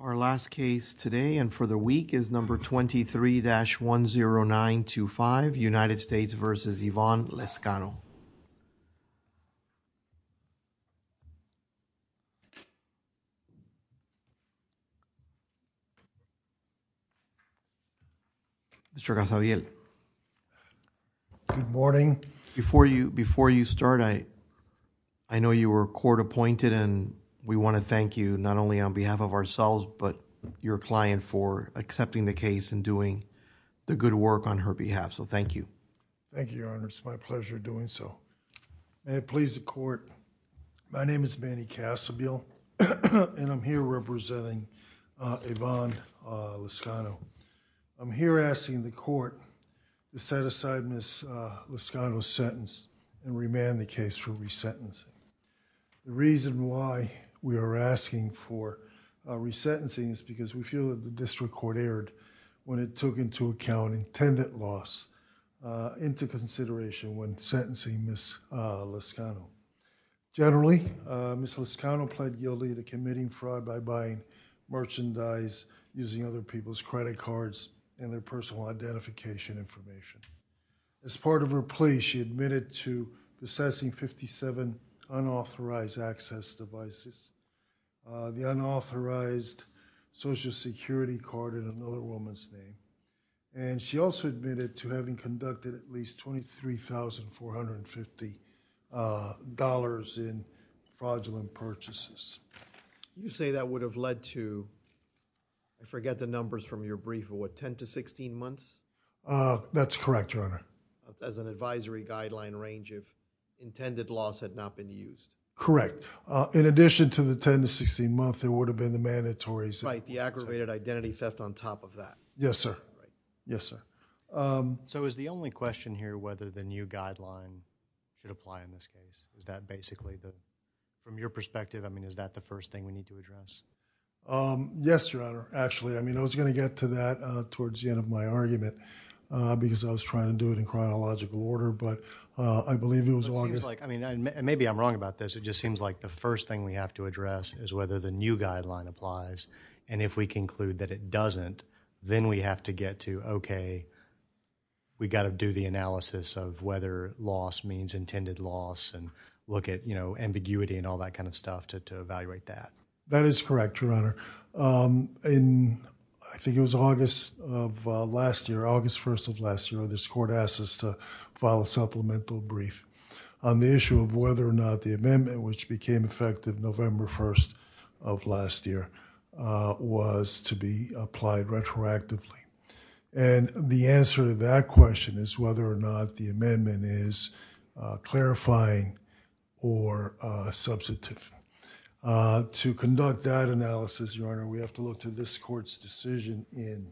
Our last case today and for the week is number 23-10925 United States v. Ivonne Lezcano. Before you start, I know you were court appointed and we want to thank you not only on behalf of ourselves but your client for accepting the case and doing the good work on her behalf, so thank you. Thank you, Your Honor. It's my pleasure doing so. May it please the court, my name is Manny Cassebill and I'm here representing Ivonne Lezcano. I'm here asking the court to set aside Ms. Lezcano's sentence and remand the case for re-sentencing. The reason why we are asking for re-sentencing is because we feel that the district court erred when it took into account intended loss into consideration when sentencing Ms. Lezcano. Generally, Ms. Lezcano pled guilty to committing fraud by buying merchandise using other people's credit cards and their personal identification information. As part of her plea, she admitted to possessing 57 unauthorized access devices, the unauthorized social security card in another woman's name, and she also admitted to having conducted at least $23,450 in fraudulent purchases. You say that would have led to, I forget the numbers from your brief, what, 10 to 16 months? That's correct, Your Honor. As an advisory guideline range if intended loss had not been used? Correct. In addition to the 10 to 16 months, it would have been the mandatories. Right, the aggravated identity theft on top of that. Yes, sir. Yes, sir. So is the only question here whether the new guideline should apply in this case? Is that basically, from your perspective, I mean is that the first thing we need to address? Yes, Your Honor. Actually, I was going to get to that towards the end of my argument because I was trying to do it in chronological order, but I believe it was longer. It seems like, maybe I'm wrong about this, it just seems like the first thing we have to address is whether the new guideline applies, and if we conclude that it doesn't, then we have to get to, okay, we got to do the analysis of whether loss means intended loss and look at ambiguity and all that kind of stuff to evaluate that. That is correct, Your Honor. In, I think it was August of last year, August 1st of last year, this court asked us to file a supplemental brief on the issue of whether or not the amendment which became effective November 1st of last year was to be applied retroactively, and the answer to that question is whether or not the amendment is clarifying or substantive. To conduct that analysis, Your Honor, we have to look to this court's decision in,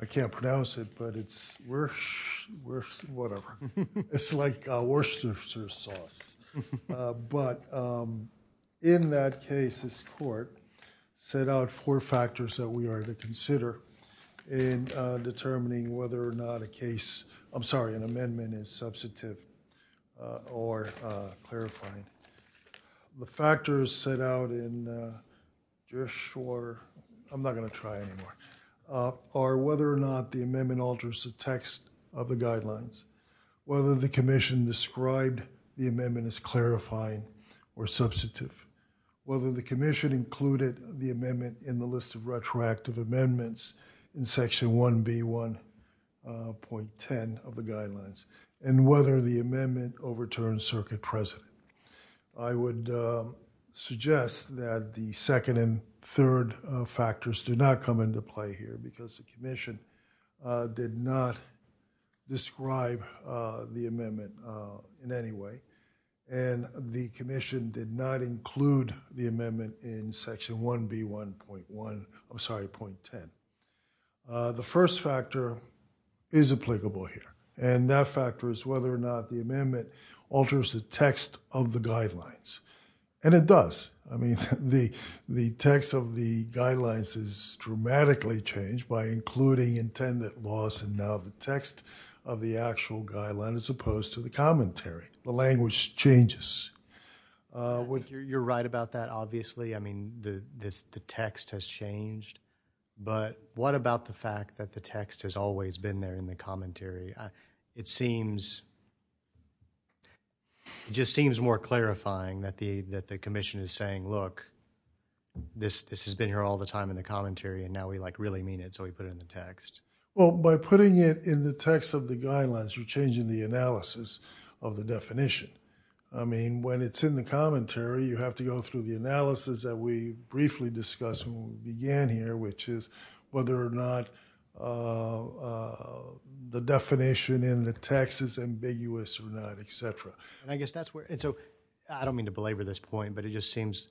I can't pronounce it, but it's, whatever, it's like Worcestershire sauce, but in that case, this court set out four factors that we are to consider in determining whether or not a case, I'm sorry, an amendment is substantive or clarifying. The factors set out in, you're sure, I'm not gonna try anymore, are whether or not the amendment alters the text of the guidelines, whether the commission described the amendment as clarifying or substantive, whether the commission included the amendment in the list of retroactive amendments in section 1B.1.10 of the guidelines, and whether the amendment overturned circuit precedent. I would suggest that the second and third factors do not come into play here because the commission did not describe the amendment in any way, and the commission did not include the amendment in section 1B.1.1, I'm sorry, point 10. The first factor is applicable here, and that factor is whether or not the amendment alters the text of the guidelines, and it does. I mean, the text of the guidelines is dramatically changed by including intended loss and now the text of the actual guideline as opposed to the commentary. The You're right about that, obviously, I mean, the text has changed, but what about the fact that the text has always been there in the commentary? It seems, it just seems more clarifying that the that the commission is saying, look, this has been here all the time in the commentary, and now we like really mean it, so we put it in the text. Well, by putting it in the text of the guidelines, you're changing the analysis of the definition. I mean, when it's in the commentary, you have to go through the analysis that we briefly discussed when we began here, which is whether or not the definition in the text is ambiguous or not, etc. And I guess that's where, and so I don't mean to belabor this point, but it just seems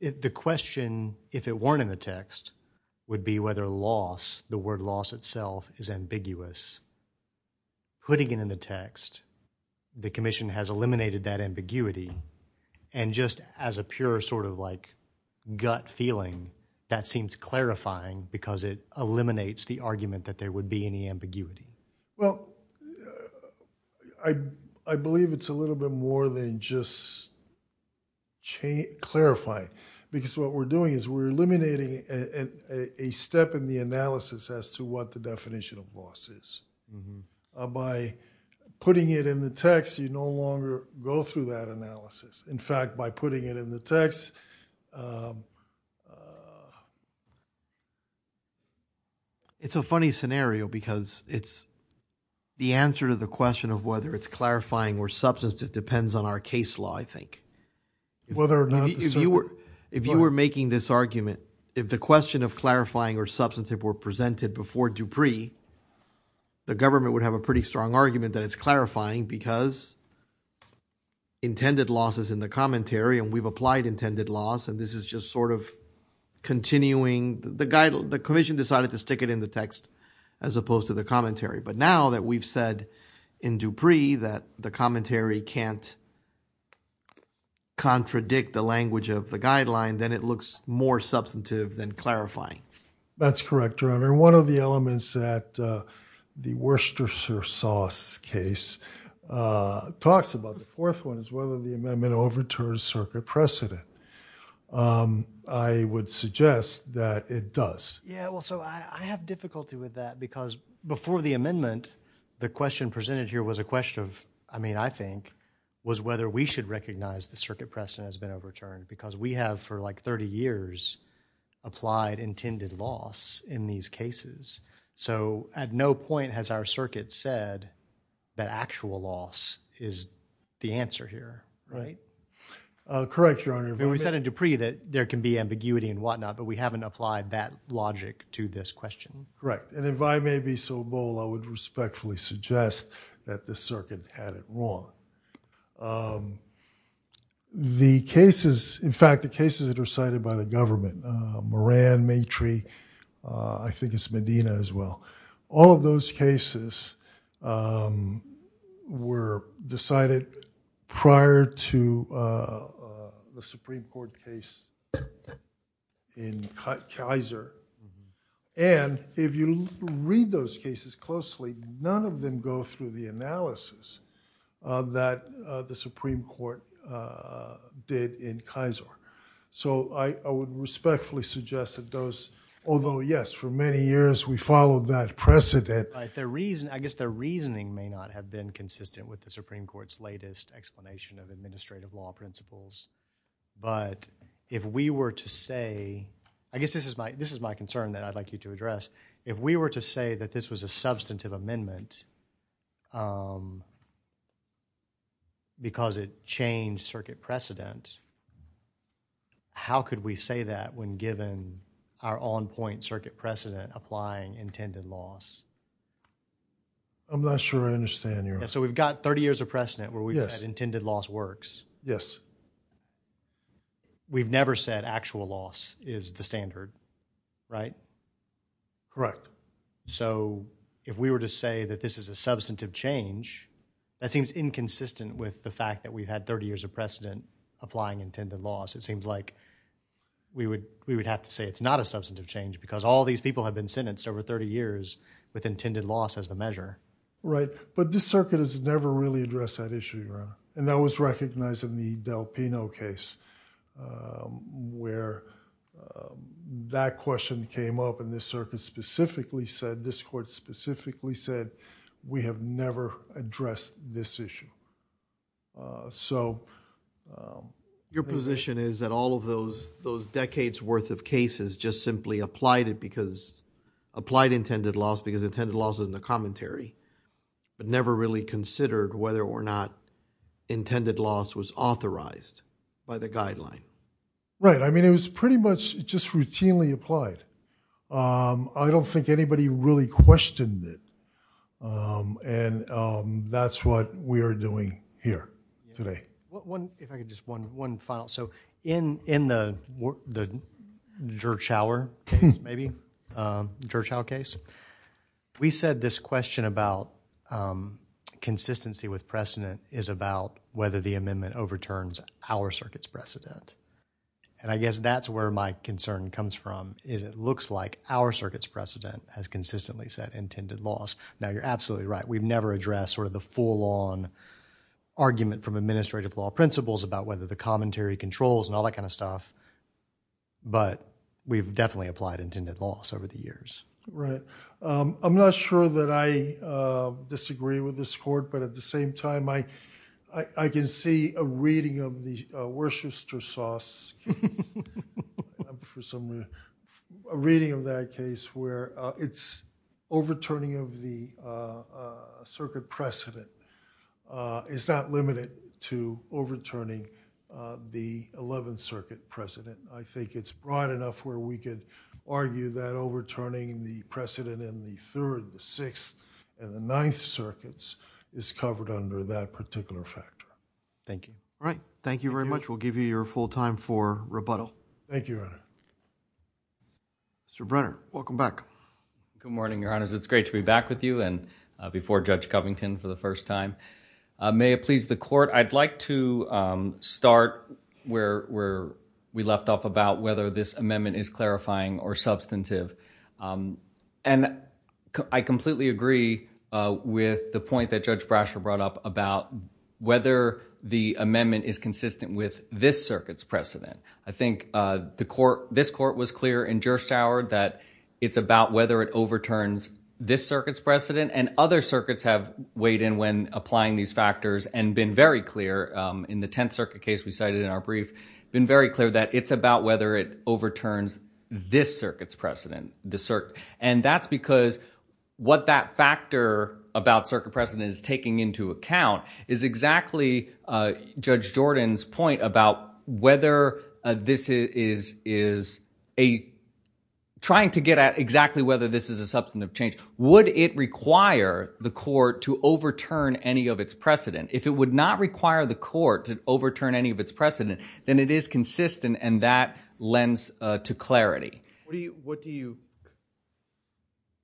the question, if it weren't in the text, would be whether loss, the word loss itself, is ambiguous. Putting it in the text, the commission has eliminated that ambiguity, and just as a pure sort of like gut feeling, that seems clarifying because it eliminates the argument that there would be any ambiguity. Well, I believe it's a little bit more than just clarifying, because what we're doing is we're eliminating a step in the analysis as to what the definition of loss is. By putting it in the text, you no longer go through that analysis. In fact, by putting it in the text... It's a funny scenario because it's the answer to the question of whether it's clarifying or substantive depends on our case law, I think. If you were making this argument, if the question of clarifying or substantive were presented before Dupree, the government would have a pretty strong argument that it's clarifying because intended loss is in the commentary, and we've applied intended loss, and this is just sort of continuing. The commission decided to stick it in the text as opposed to the commentary, but now that we've said in Dupree that the commentary can't contradict the language of the guideline, then it looks more substantive than clarifying. That's correct, your honor. One of the elements that the Worcestershire sauce case talks about, the fourth one, is whether the amendment overturns circuit precedent. I would suggest that it does. Yeah, well, so I have difficulty with that because before the amendment, the question presented here was a question of, I mean, I think, was whether we should recognize the circuit precedent has been overturned because we have, for like 30 years, applied intended loss in these cases. So, at no point has our circuit said that actual loss is the answer here, right? Correct, your honor. We said in Dupree that there can be ambiguity and whatnot, but we haven't applied that logic to this question. Correct, and if I may be so bold, I would respectfully suggest that this circuit had it wrong. The cases, in fact, the cases that are cited by the government, Moran, Matry, I think it's Medina as well, all of those cases were decided prior to the Supreme Court case in Kaiser, and if you read those cases closely, none of them go through the analysis that the Supreme Court did in Kaiser. So, I would respectfully suggest that those, although, yes, for many years, we followed that precedent. I guess their reasoning may not have been consistent with the Supreme Court's latest explanation of administrative law principles, but if we were to say, I guess this is my concern that I'd like you to address, if we were to say that this was a substantive amendment because it changed circuit precedent, how could we say that when given our on-point circuit precedent applying intended loss? I'm not sure I understand, your honor. So, we've got 30 years of precedent where we've said intended loss works. Yes. We've never said actual loss is the standard, right? Correct. So, if we were to say that this is a substantive change, that seems inconsistent with the fact that we've had 30 years of precedent applying intended loss. It seems like we would have to say it's not a substantive change because all these people have been sentenced over 30 years with intended loss as the measure. Right. But this circuit has never really addressed that issue, your honor. And that was recognized in the Del Pino case where that question came up and this circuit specifically said, this court specifically said, we have never addressed this issue. So, Your position is that all of those decades worth of cases just simply applied it because, intended loss is in the commentary, but never really considered whether or not intended loss was authorized by the guideline. Right. I mean, it was pretty much just routinely applied. I don't think anybody really questioned it. And that's what we are doing here today. If I could just one final. So, in the Gertschower case, maybe, Gertschower case, we said this question about consistency with precedent is about whether the amendment overturns our circuit's precedent. And I guess that's where my concern comes from, is it looks like our circuit's precedent has consistently said intended loss. Now, we've never addressed sort of the full-on argument from administrative law principles about whether the commentary controls and all that kind of stuff. But we've definitely applied intended loss over the years. Right. I'm not sure that I disagree with this court, but at the same time, I can see a reading of the Worcester-Sauce case, I presume a reading of that case where it's overturning of the circuit precedent is not limited to overturning the 11th circuit precedent. I think it's broad enough where we could argue that overturning the precedent in the third, the sixth, and the ninth circuits is covered under that particular factor. Thank you. All right. Thank you very much. We'll give you your full time for rebuttal. Thank you, Your Honor. Mr. Brenner, welcome back. Good morning, Your Honors. It's great to be back with you and before Judge Covington for the first time. May it please the court, I'd like to start where we left off about whether this amendment is clarifying or substantive. And I completely agree with the point that Judge Brasher brought up about whether the amendment is consistent with this circuit's precedent. I think this court was clear in Gerstauer that it's about whether it overturns this circuit's precedent, and other circuits have weighed in when applying these factors and been very clear in the 10th circuit case we cited in our brief, been very clear that it's about whether it overturns this circuit's precedent. And that's because what that factor about circuit precedent is taking into account is exactly Judge Jordan's point about whether this is trying to get at exactly whether this is a substantive change. Would it require the court to overturn any of its precedent? If it would not require the court to overturn any of its precedent, then it is consistent and that lends to clarity. What do you,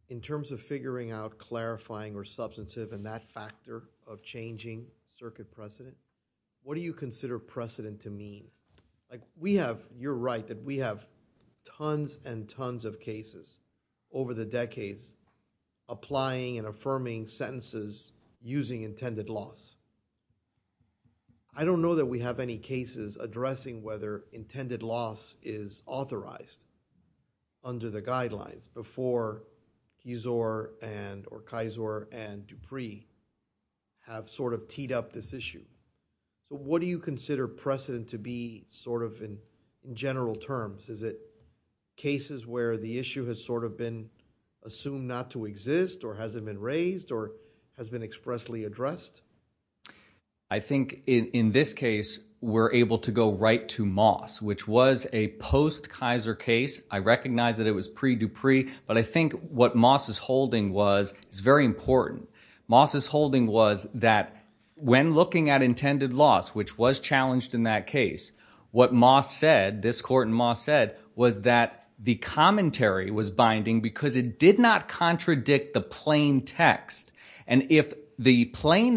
in terms of figuring out clarifying or substantive and that factor of changing circuit precedent, what do you consider precedent to mean? Like we have, you're right that we have tons and tons of cases over the decades applying and affirming sentences using intended loss. I don't know that we have any cases addressing whether intended loss is authorized under the guidelines before Kizor and or Kizor and Dupree have sort of teed up this issue. What do you consider precedent to be sort of in general terms? Is it cases where the issue has sort of been assumed not to exist or hasn't been raised or has been expressly addressed? I think in this case, we're able to go right to Moss, which was a post-Kizor case. I recognize that it was pre-Dupree, but I think what Moss is holding was, it's very important. Moss is holding was that when looking at intended loss, which was challenged in that case, what Moss said, this court in Moss said, was that the commentary was binding because it did not contradict the plain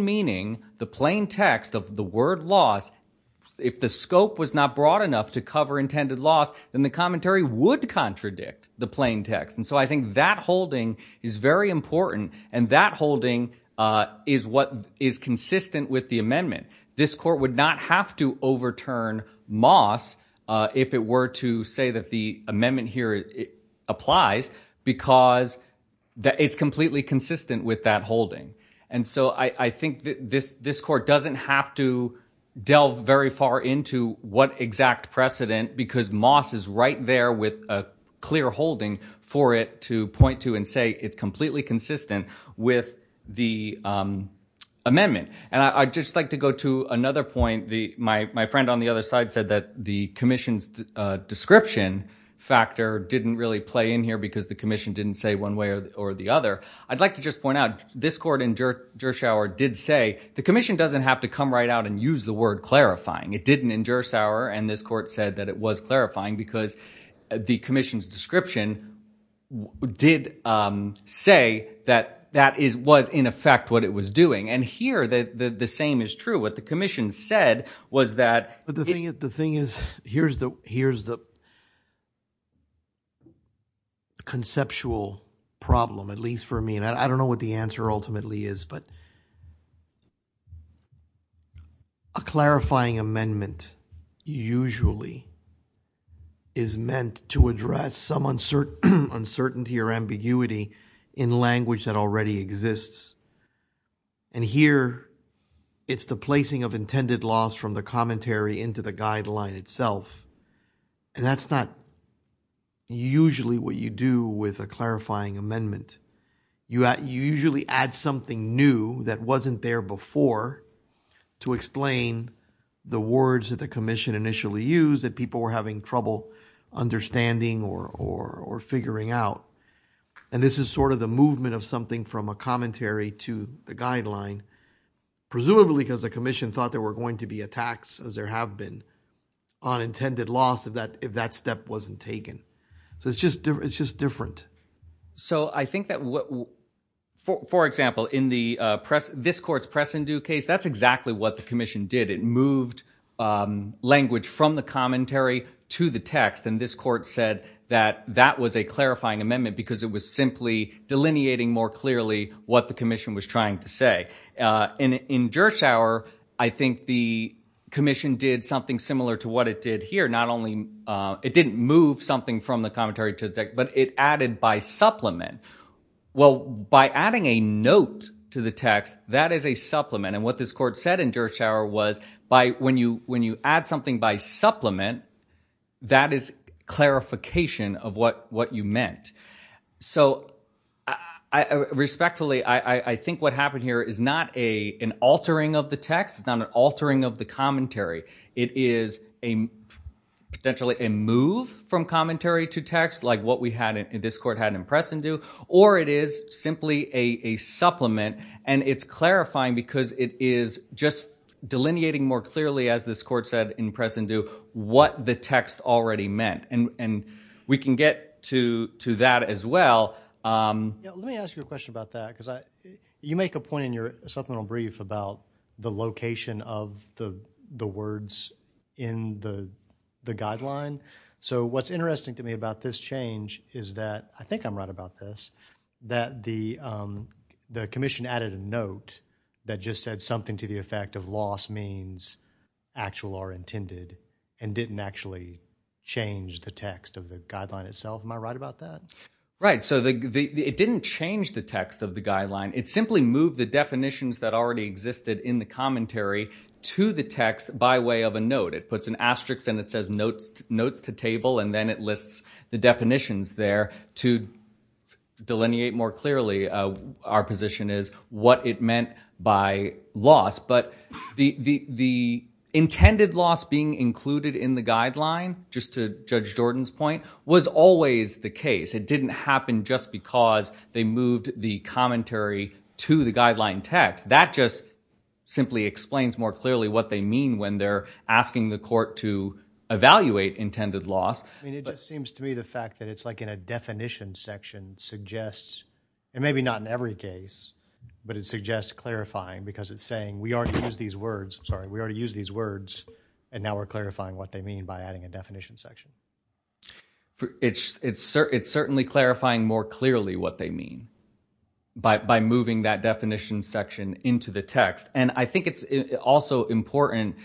meaning, the plain text of the word loss. If the scope was not broad enough to cover intended loss, then the commentary would contradict the plain text. And so I think that holding is very important and that holding is what is consistent with the amendment. This court would not have to overturn Moss if it were to say that the amendment here applies because it's consistent with that holding. And so I think this court doesn't have to delve very far into what exact precedent because Moss is right there with a clear holding for it to point to and say it's completely consistent with the amendment. And I'd just like to go to another point. My friend on the other side said that the commission's description factor didn't really play in here because the commission didn't say one way or the other. I'd like to just point out, this court in Gershauer did say, the commission doesn't have to come right out and use the word clarifying. It didn't in Gershauer and this court said that it was clarifying because the commission's description did say that that was in effect what it was doing. And here the same is true. What the commission said was that... But the thing is, here's the conceptual problem, at least for me, and I don't know what the answer ultimately is, but a clarifying amendment usually is meant to address some uncertainty or ambiguity in language that already exists. And here it's the placing of intended loss from the commentary into the guideline itself. And that's not usually what you do with a clarifying amendment. You usually add something new that wasn't there before to explain the words that the commission initially used that people were having trouble understanding or figuring out. And this is sort of the movement of something from a commentary to the guideline, presumably because the commission thought there were going to be attacks, as there have been, on intended loss if that step wasn't taken. So it's just different. So I think that, for example, in this court's press and do case, that's exactly what the did. It moved language from the commentary to the text. And this court said that that was a clarifying amendment because it was simply delineating more clearly what the commission was trying to say. In Gershauer, I think the commission did something similar to what it did here. Not only... It didn't move something from the commentary to the text, but it added by supplement. Well, by adding a note to the text, that is a supplement. And what this court said in Gershauer was, when you add something by supplement, that is clarification of what you meant. So respectfully, I think what happened here is not an altering of the text, not an altering of the commentary. It is potentially a move from commentary to text, like what this court had in press and do, or it is simply a supplement. And it's clarifying because it is just delineating more clearly, as this court said in press and do, what the text already meant. And we can get to that as well. Let me ask you a question about that because you make a point in your supplemental brief about the location of the words in the guideline. So what's interesting to me about this change is that, I think I'm right about this, that the commission added a note that just said something to the effect of loss means actual are intended and didn't actually change the text of the guideline itself. Am I right about that? Right. So it didn't change the text of the guideline. It simply moved the definitions that already existed in the commentary to the text by way of a note. It puts an asterisk and it says notes to table, and then it lists the definitions there to delineate more clearly our position is what it meant by loss. But the intended loss being included in the guideline, just to Judge Jordan's point, was always the case. It didn't happen just because they moved the commentary to the guideline text. That just simply explains more clearly what they mean when they're asking the court to evaluate intended loss. I mean, it just seems to me the fact that it's like in a definition section suggests, and maybe not in every case, but it suggests clarifying because it's saying we already use these words, sorry, we already use these words and now we're clarifying what they mean by adding a definition section. It's certainly clarifying more clearly what they mean by moving that definition section into the text. And I think it's also important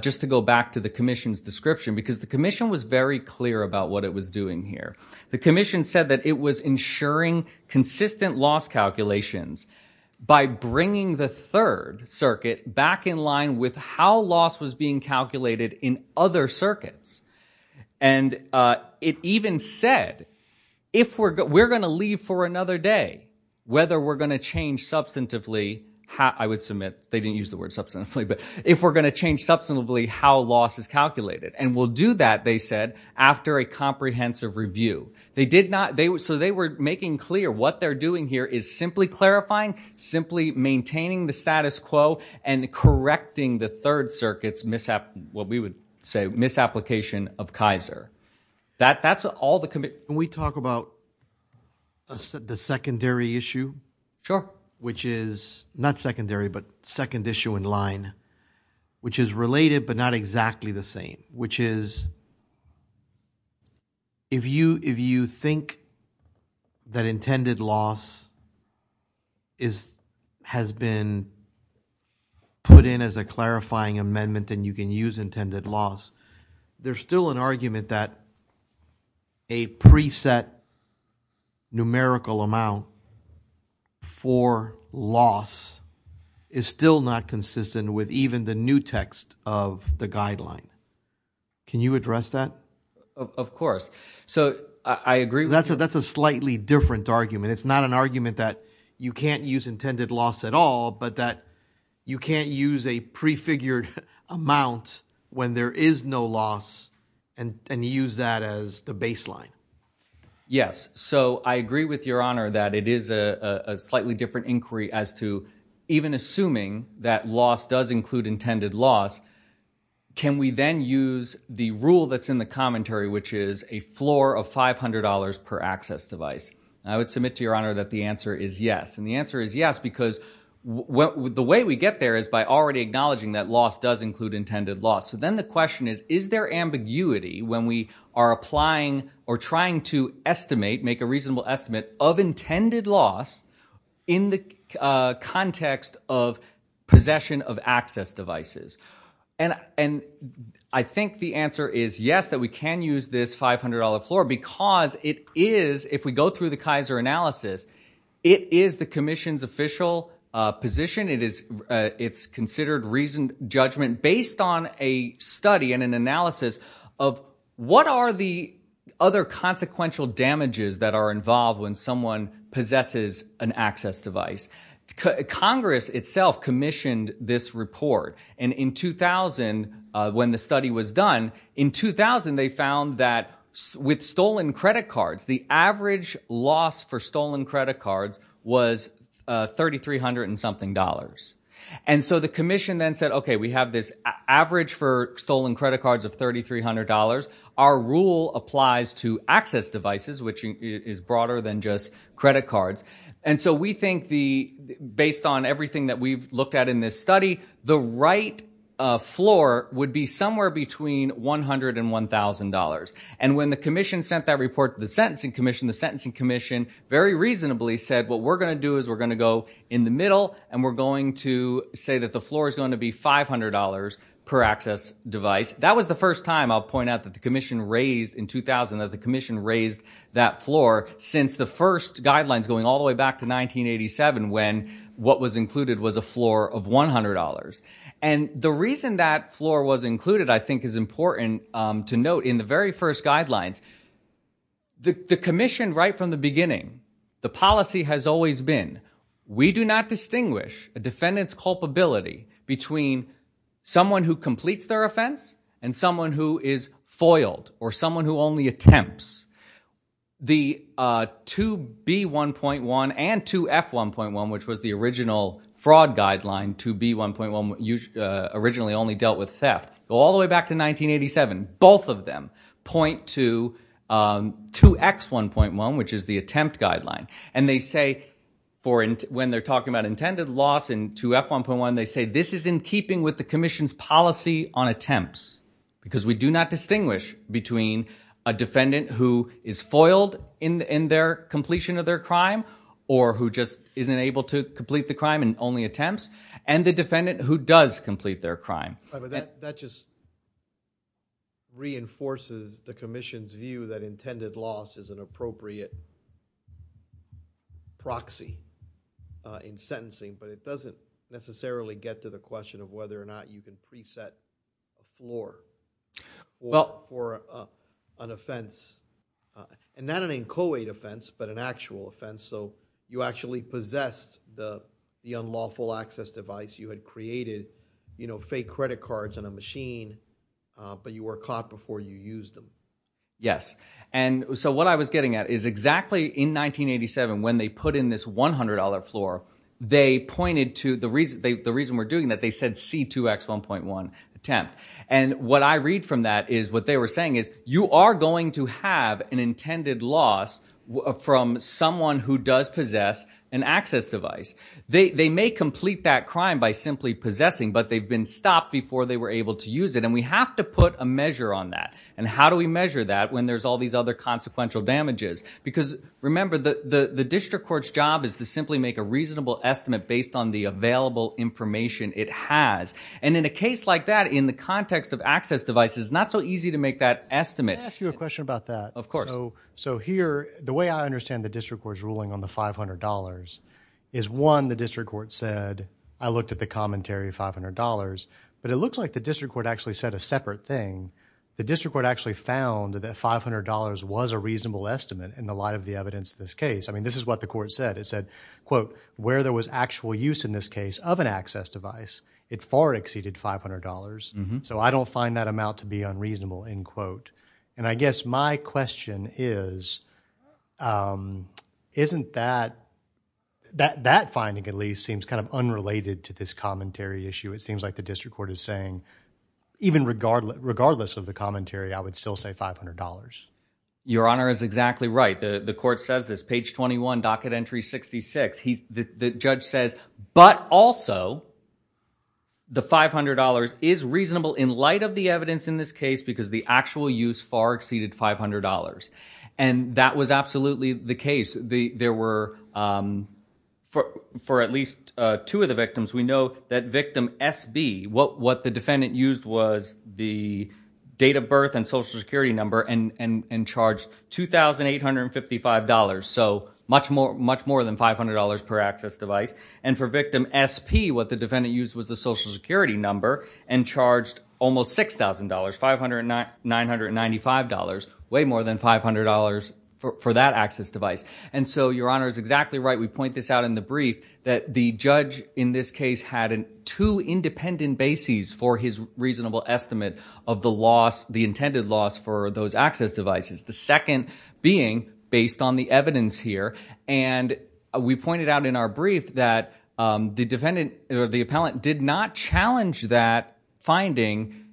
just to go back to the description because the commission was very clear about what it was doing here. The commission said that it was ensuring consistent loss calculations by bringing the third circuit back in line with how loss was being calculated in other circuits. And it even said, if we're going to leave for another day, whether we're going to change substantively, I would submit they didn't use the word substantively, but if we're going to change how loss is calculated. And we'll do that, they said, after a comprehensive review. They did not, so they were making clear what they're doing here is simply clarifying, simply maintaining the status quo and correcting the third circuit's, what we would say, misapplication of Kaiser. That's all the commission. Can we talk about the secondary issue? Sure. Which is not secondary, but second issue in line, which is related, but not exactly the same, which is if you think that intended loss has been put in as a clarifying amendment, and you can use intended loss, there's still an argument that a preset numerical amount for loss is still not consistent with even the new text of the guideline. Can you address that? Of course. So I agree. That's a, that's a slightly different argument. It's not an argument that you can't use intended loss at all, but that you can't use a prefigured amount when there is no loss and, and use that as the baseline. Yes. So I agree with your honor that it is a slightly different inquiry as to even assuming that loss does include intended loss. Can we then use the rule that's in the commentary, which is a floor of $500 per access device? And I would submit to your honor that the answer is yes. And the answer is yes, because the way we get there is by already acknowledging that loss does include intended loss. Then the question is, is there ambiguity when we are applying or trying to estimate, make a reasonable estimate of intended loss in the context of possession of access devices? And I think the answer is yes, that we can use this $500 floor because it is, if we go through the Kaiser analysis, it is the commission's official position. It's considered reasoned judgment based on a study and an analysis of what are the other consequential damages that are involved when someone possesses an access device. Congress itself commissioned this report. And in 2000, when the study was done, in 2000, they found that with stolen credit cards, the average loss for stolen credit cards was 3,300 and something dollars. And so the commission then said, okay, we have this average for stolen credit cards of $3,300. Our rule applies to access devices, which is broader than just credit cards. And so we think based on everything that we've looked at in this study, the right floor would be somewhere between $100 and $1,000. And when the commission sent that report to the sentencing commission, the sentencing commission very reasonably said, what we're going to do is we're going to go in the middle and we're going to say that the floor is going to be $500 per access device. That was the first time I'll point out that the commission raised in 2000, that the commission raised that floor since the first guidelines going all the way back to 1987, when what was included was a floor of $100. And the reason that floor was included, I think is important to note in the very first guidelines, the commission right from the beginning, the policy has always been, we do not distinguish a defendant's culpability between someone who completes their offense and someone who is foiled or someone who only attempts. The 2B1.1 and 2F1.1, which was the original fraud guideline, 2B1.1 originally only dealt with theft. All the way back to 1987, both of them point to 2X1.1, which is the attempt guideline. And they say, when they're talking about intended loss in 2F1.1, they say this is in keeping with the commission's policy on attempts. Because we do not distinguish between a defendant who is foiled in their completion of their crime or who just isn't able to complete the crime and only attempts, and the defendant who does complete their crime. But that just reinforces the commission's view that intended loss is an appropriate proxy in sentencing, but it doesn't necessarily get to the question of whether or not you can preset a floor for an offense. And not an inchoate offense, but an actual offense. So actually possessed the unlawful access device, you had created fake credit cards on a machine, but you were caught before you used them. Yes. And so what I was getting at is exactly in 1987, when they put in this $100 floor, they pointed to the reason we're doing that, they said C2X1.1 attempt. And what I read from that is what they were saying is, you are going to have an intended loss from someone who does possess an access device. They may complete that crime by simply possessing, but they've been stopped before they were able to use it. And we have to put a measure on that. And how do we measure that when there's all these other consequential damages? Because remember, the district court's job is to simply make a reasonable estimate based on the available information it has. And in a case like that, in the context of access devices, it's not so easy to make that estimate. Can I ask you a question about that? Of course. So here, the way I understand the district court's ruling on the $500 is one, the district court said, I looked at the commentary of $500, but it looks like the district court actually said a separate thing. The district court actually found that $500 was a reasonable estimate in the light of the evidence in this case. I mean, this is what the court said. It said, quote, where there was actual use in this case of an access device, it far exceeded $500. So I don't find that amount to be unreasonable and I guess my question is, isn't that, that finding at least seems kind of unrelated to this commentary issue. It seems like the district court is saying, even regardless of the commentary, I would still say $500. Your honor is exactly right. The court says this, page 21, docket entry 66, the judge says, but also the $500 is reasonable in light of the evidence in this case, because the actual use far exceeded $500. And that was absolutely the case. There were, for at least two of the victims, we know that victim SB, what the defendant used was the date of birth and social security number and charged $2,855. So much more than $500 per access device. And for victim SP, what the defendant used was the social security number and charged almost $6,000, $500, $995, way more than $500 for that access device. And so your honor is exactly right. We point this out in the brief that the judge in this case had two independent bases for his reasonable estimate of the loss, the intended loss for those access devices. The second being based on the evidence here. And we pointed out in our brief that the defendant or the appellant did not challenge that finding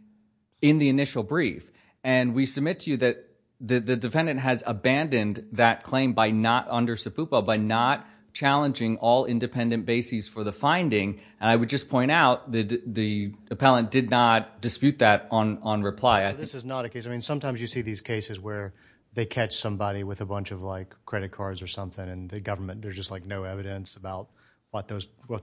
in the initial brief. And we submit to you that the defendant has abandoned that claim by not under subpoena, by not challenging all independent bases for the finding. And I would just point out that the appellant did not dispute that on reply. I think this is not a case. I mean, sometimes you see these cases where they catch somebody with a bunch of like credit cards or something and the government, there's just like no evidence about what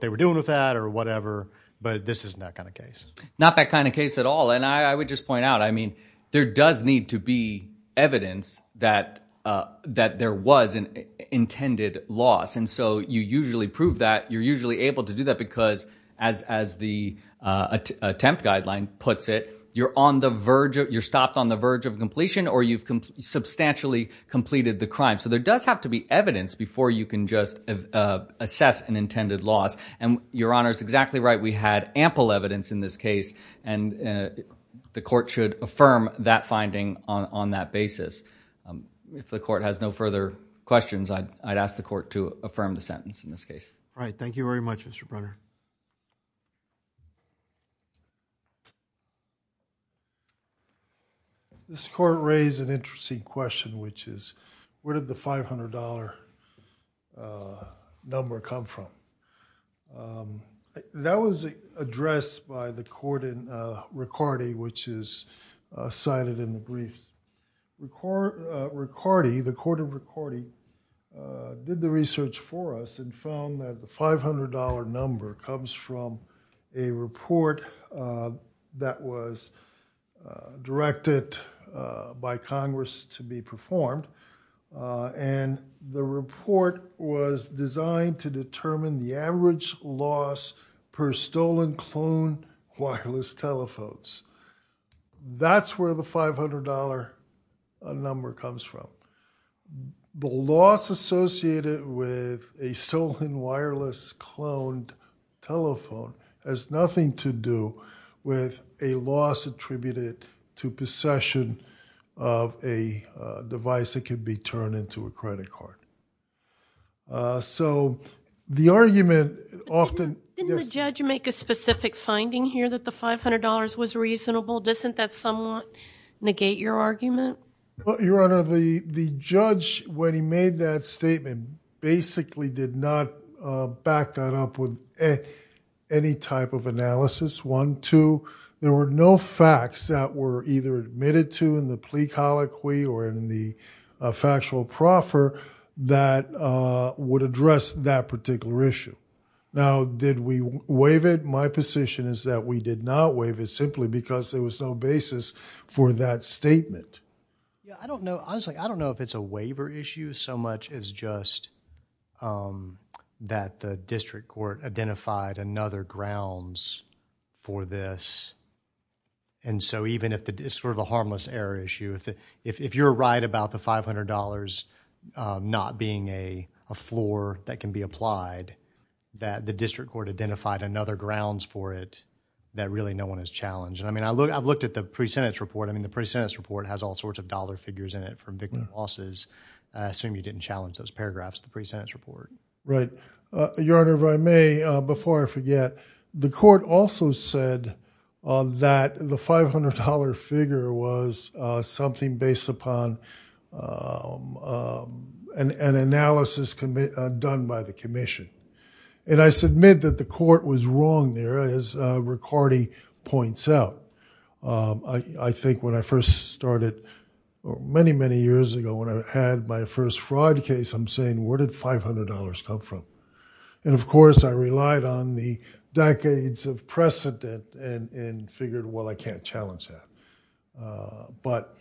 they were doing with that or whatever, but this isn't that kind of case. Not that kind of case at all. And I would just point out, I mean, there does need to be evidence that there was an intended loss. And so you usually prove that you're usually able to do that because as the attempt guideline puts it, you're stopped on the verge of completion or you've substantially completed the crime. So there does have to be evidence before you can just assess an intended loss. And Your Honor is exactly right. We had ample evidence in this case and the court should affirm that finding on that basis. If the court has no further questions, I'd ask the court to affirm the sentence in this case. All right. Thank you very much, Mr. Brunner. This court raised an interesting question, which is where did the $500 number come from? That was addressed by the court in Riccardi, which is cited in the briefs. Riccardi, the court of Riccardi, did the research for us and found that the $500 number comes from a report that was directed by Congress to be performed. And the report was designed to determine the average loss per stolen cloned wireless telephones. That's where the $500 number comes from. The loss associated with a stolen wireless cloned telephone has nothing to do with a loss attributed to possession of a device that could be turned into a credit card. Didn't the judge make a specific finding here that the $500 was reasonable? Doesn't that somewhat negate your argument? Your Honor, the judge, when he made that statement, basically did not back that up with any type of analysis. One, two, there were no facts that were either admitted to the plea colloquy or in the factual proffer that would address that particular issue. Now, did we waive it? My position is that we did not waive it simply because there was no basis for that statement. Honestly, I don't know if it's a waiver issue so much as just that the district court identified another grounds for this. And so, even if it's sort of a harmless error issue, if you're right about the $500 not being a floor that can be applied, that the district court identified another grounds for it that really no one has challenged. I mean, I've looked at the pre-sentence report. I mean, the pre-sentence report has all sorts of dollar figures in it from victim losses. I assume you didn't challenge those paragraphs in the pre-sentence report. Right. Your Honor, if I may, before I forget, the court also said that the $500 figure was something based upon an analysis done by the commission. And I submit that the court was wrong there, as Ricardi points out. I think when I first started many, many years ago, when I had my first fraud case, I'm saying, where did $500 come from? And, of course, I relied on the decades of precedent and figured, well, I can't challenge that. But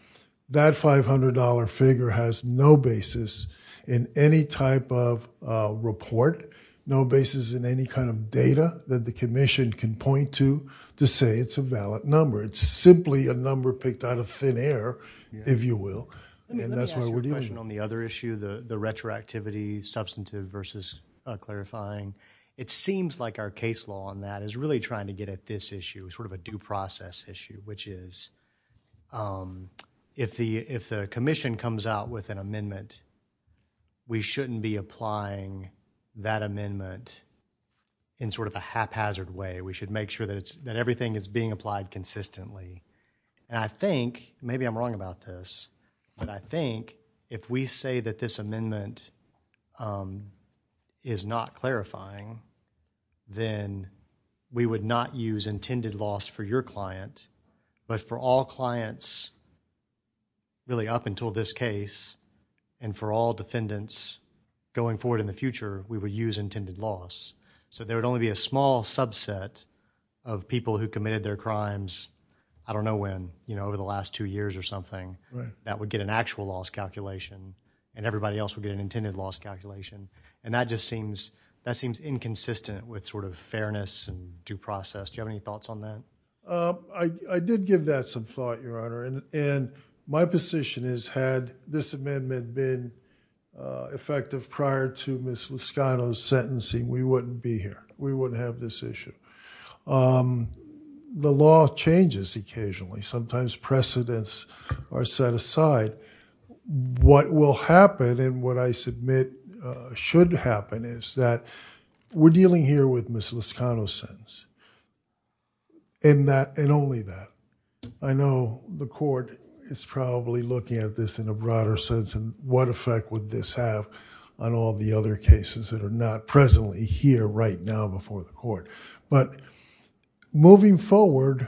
that $500 figure has no basis in any type of report, no basis in any kind of data that the commission can point to to say it's a valid number. It's simply a number picked out of thin air, if you will. Let me ask you a question on the other issue, the retroactivity, substantive versus clarifying. It seems like our case law on that is really trying to get at this issue, sort of a due process issue, which is, if the commission comes out with an amendment, we shouldn't be applying that amendment in sort of a haphazard way. We should make sure that everything is being consistently. And I think, maybe I'm wrong about this, but I think if we say that this amendment is not clarifying, then we would not use intended loss for your client, but for all clients, really up until this case, and for all defendants going forward in the future, we would use intended loss. So there would only be a small subset of people who committed their crimes, I don't know when, over the last two years or something, that would get an actual loss calculation, and everybody else would get an intended loss calculation. And that just seems inconsistent with sort of fairness and due process. Do you have any thoughts on that? I did give that some thought, Your Honor. And my position is, had this amendment been effective prior to Ms. Liscano's sentencing, we wouldn't be here. We wouldn't have this issue. The law changes occasionally. Sometimes precedents are set aside. What will happen, and what I submit should happen, is that we're dealing here with Ms. Liscano's sentence. And that, and only that. I know the court is probably looking at this in a broader sense, and what effect would this have on all the other cases that are not presently here right now before the court. But moving forward,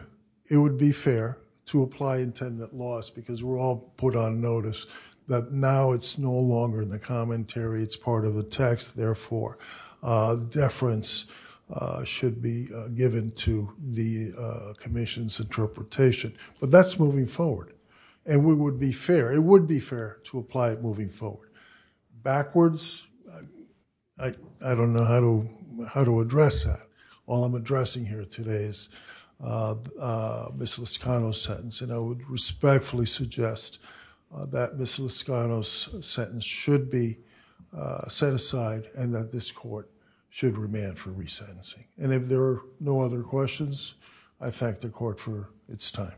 it would be fair to apply intended loss, because we're all put on notice that now it's no longer in the commentary. It's part of the text. Therefore, deference should be given to the Commission's interpretation. But that's forward. And it would be fair to apply it moving forward. Backwards, I don't know how to address that. All I'm addressing here today is Ms. Liscano's sentence. And I would respectfully suggest that Ms. Liscano's sentence should be set aside and that this court should remand for resentencing. And if there are no other questions, I thank the court for its time.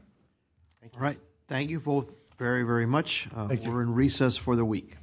All right. Thank you both very, very much. Thank you. We're in recess for the week.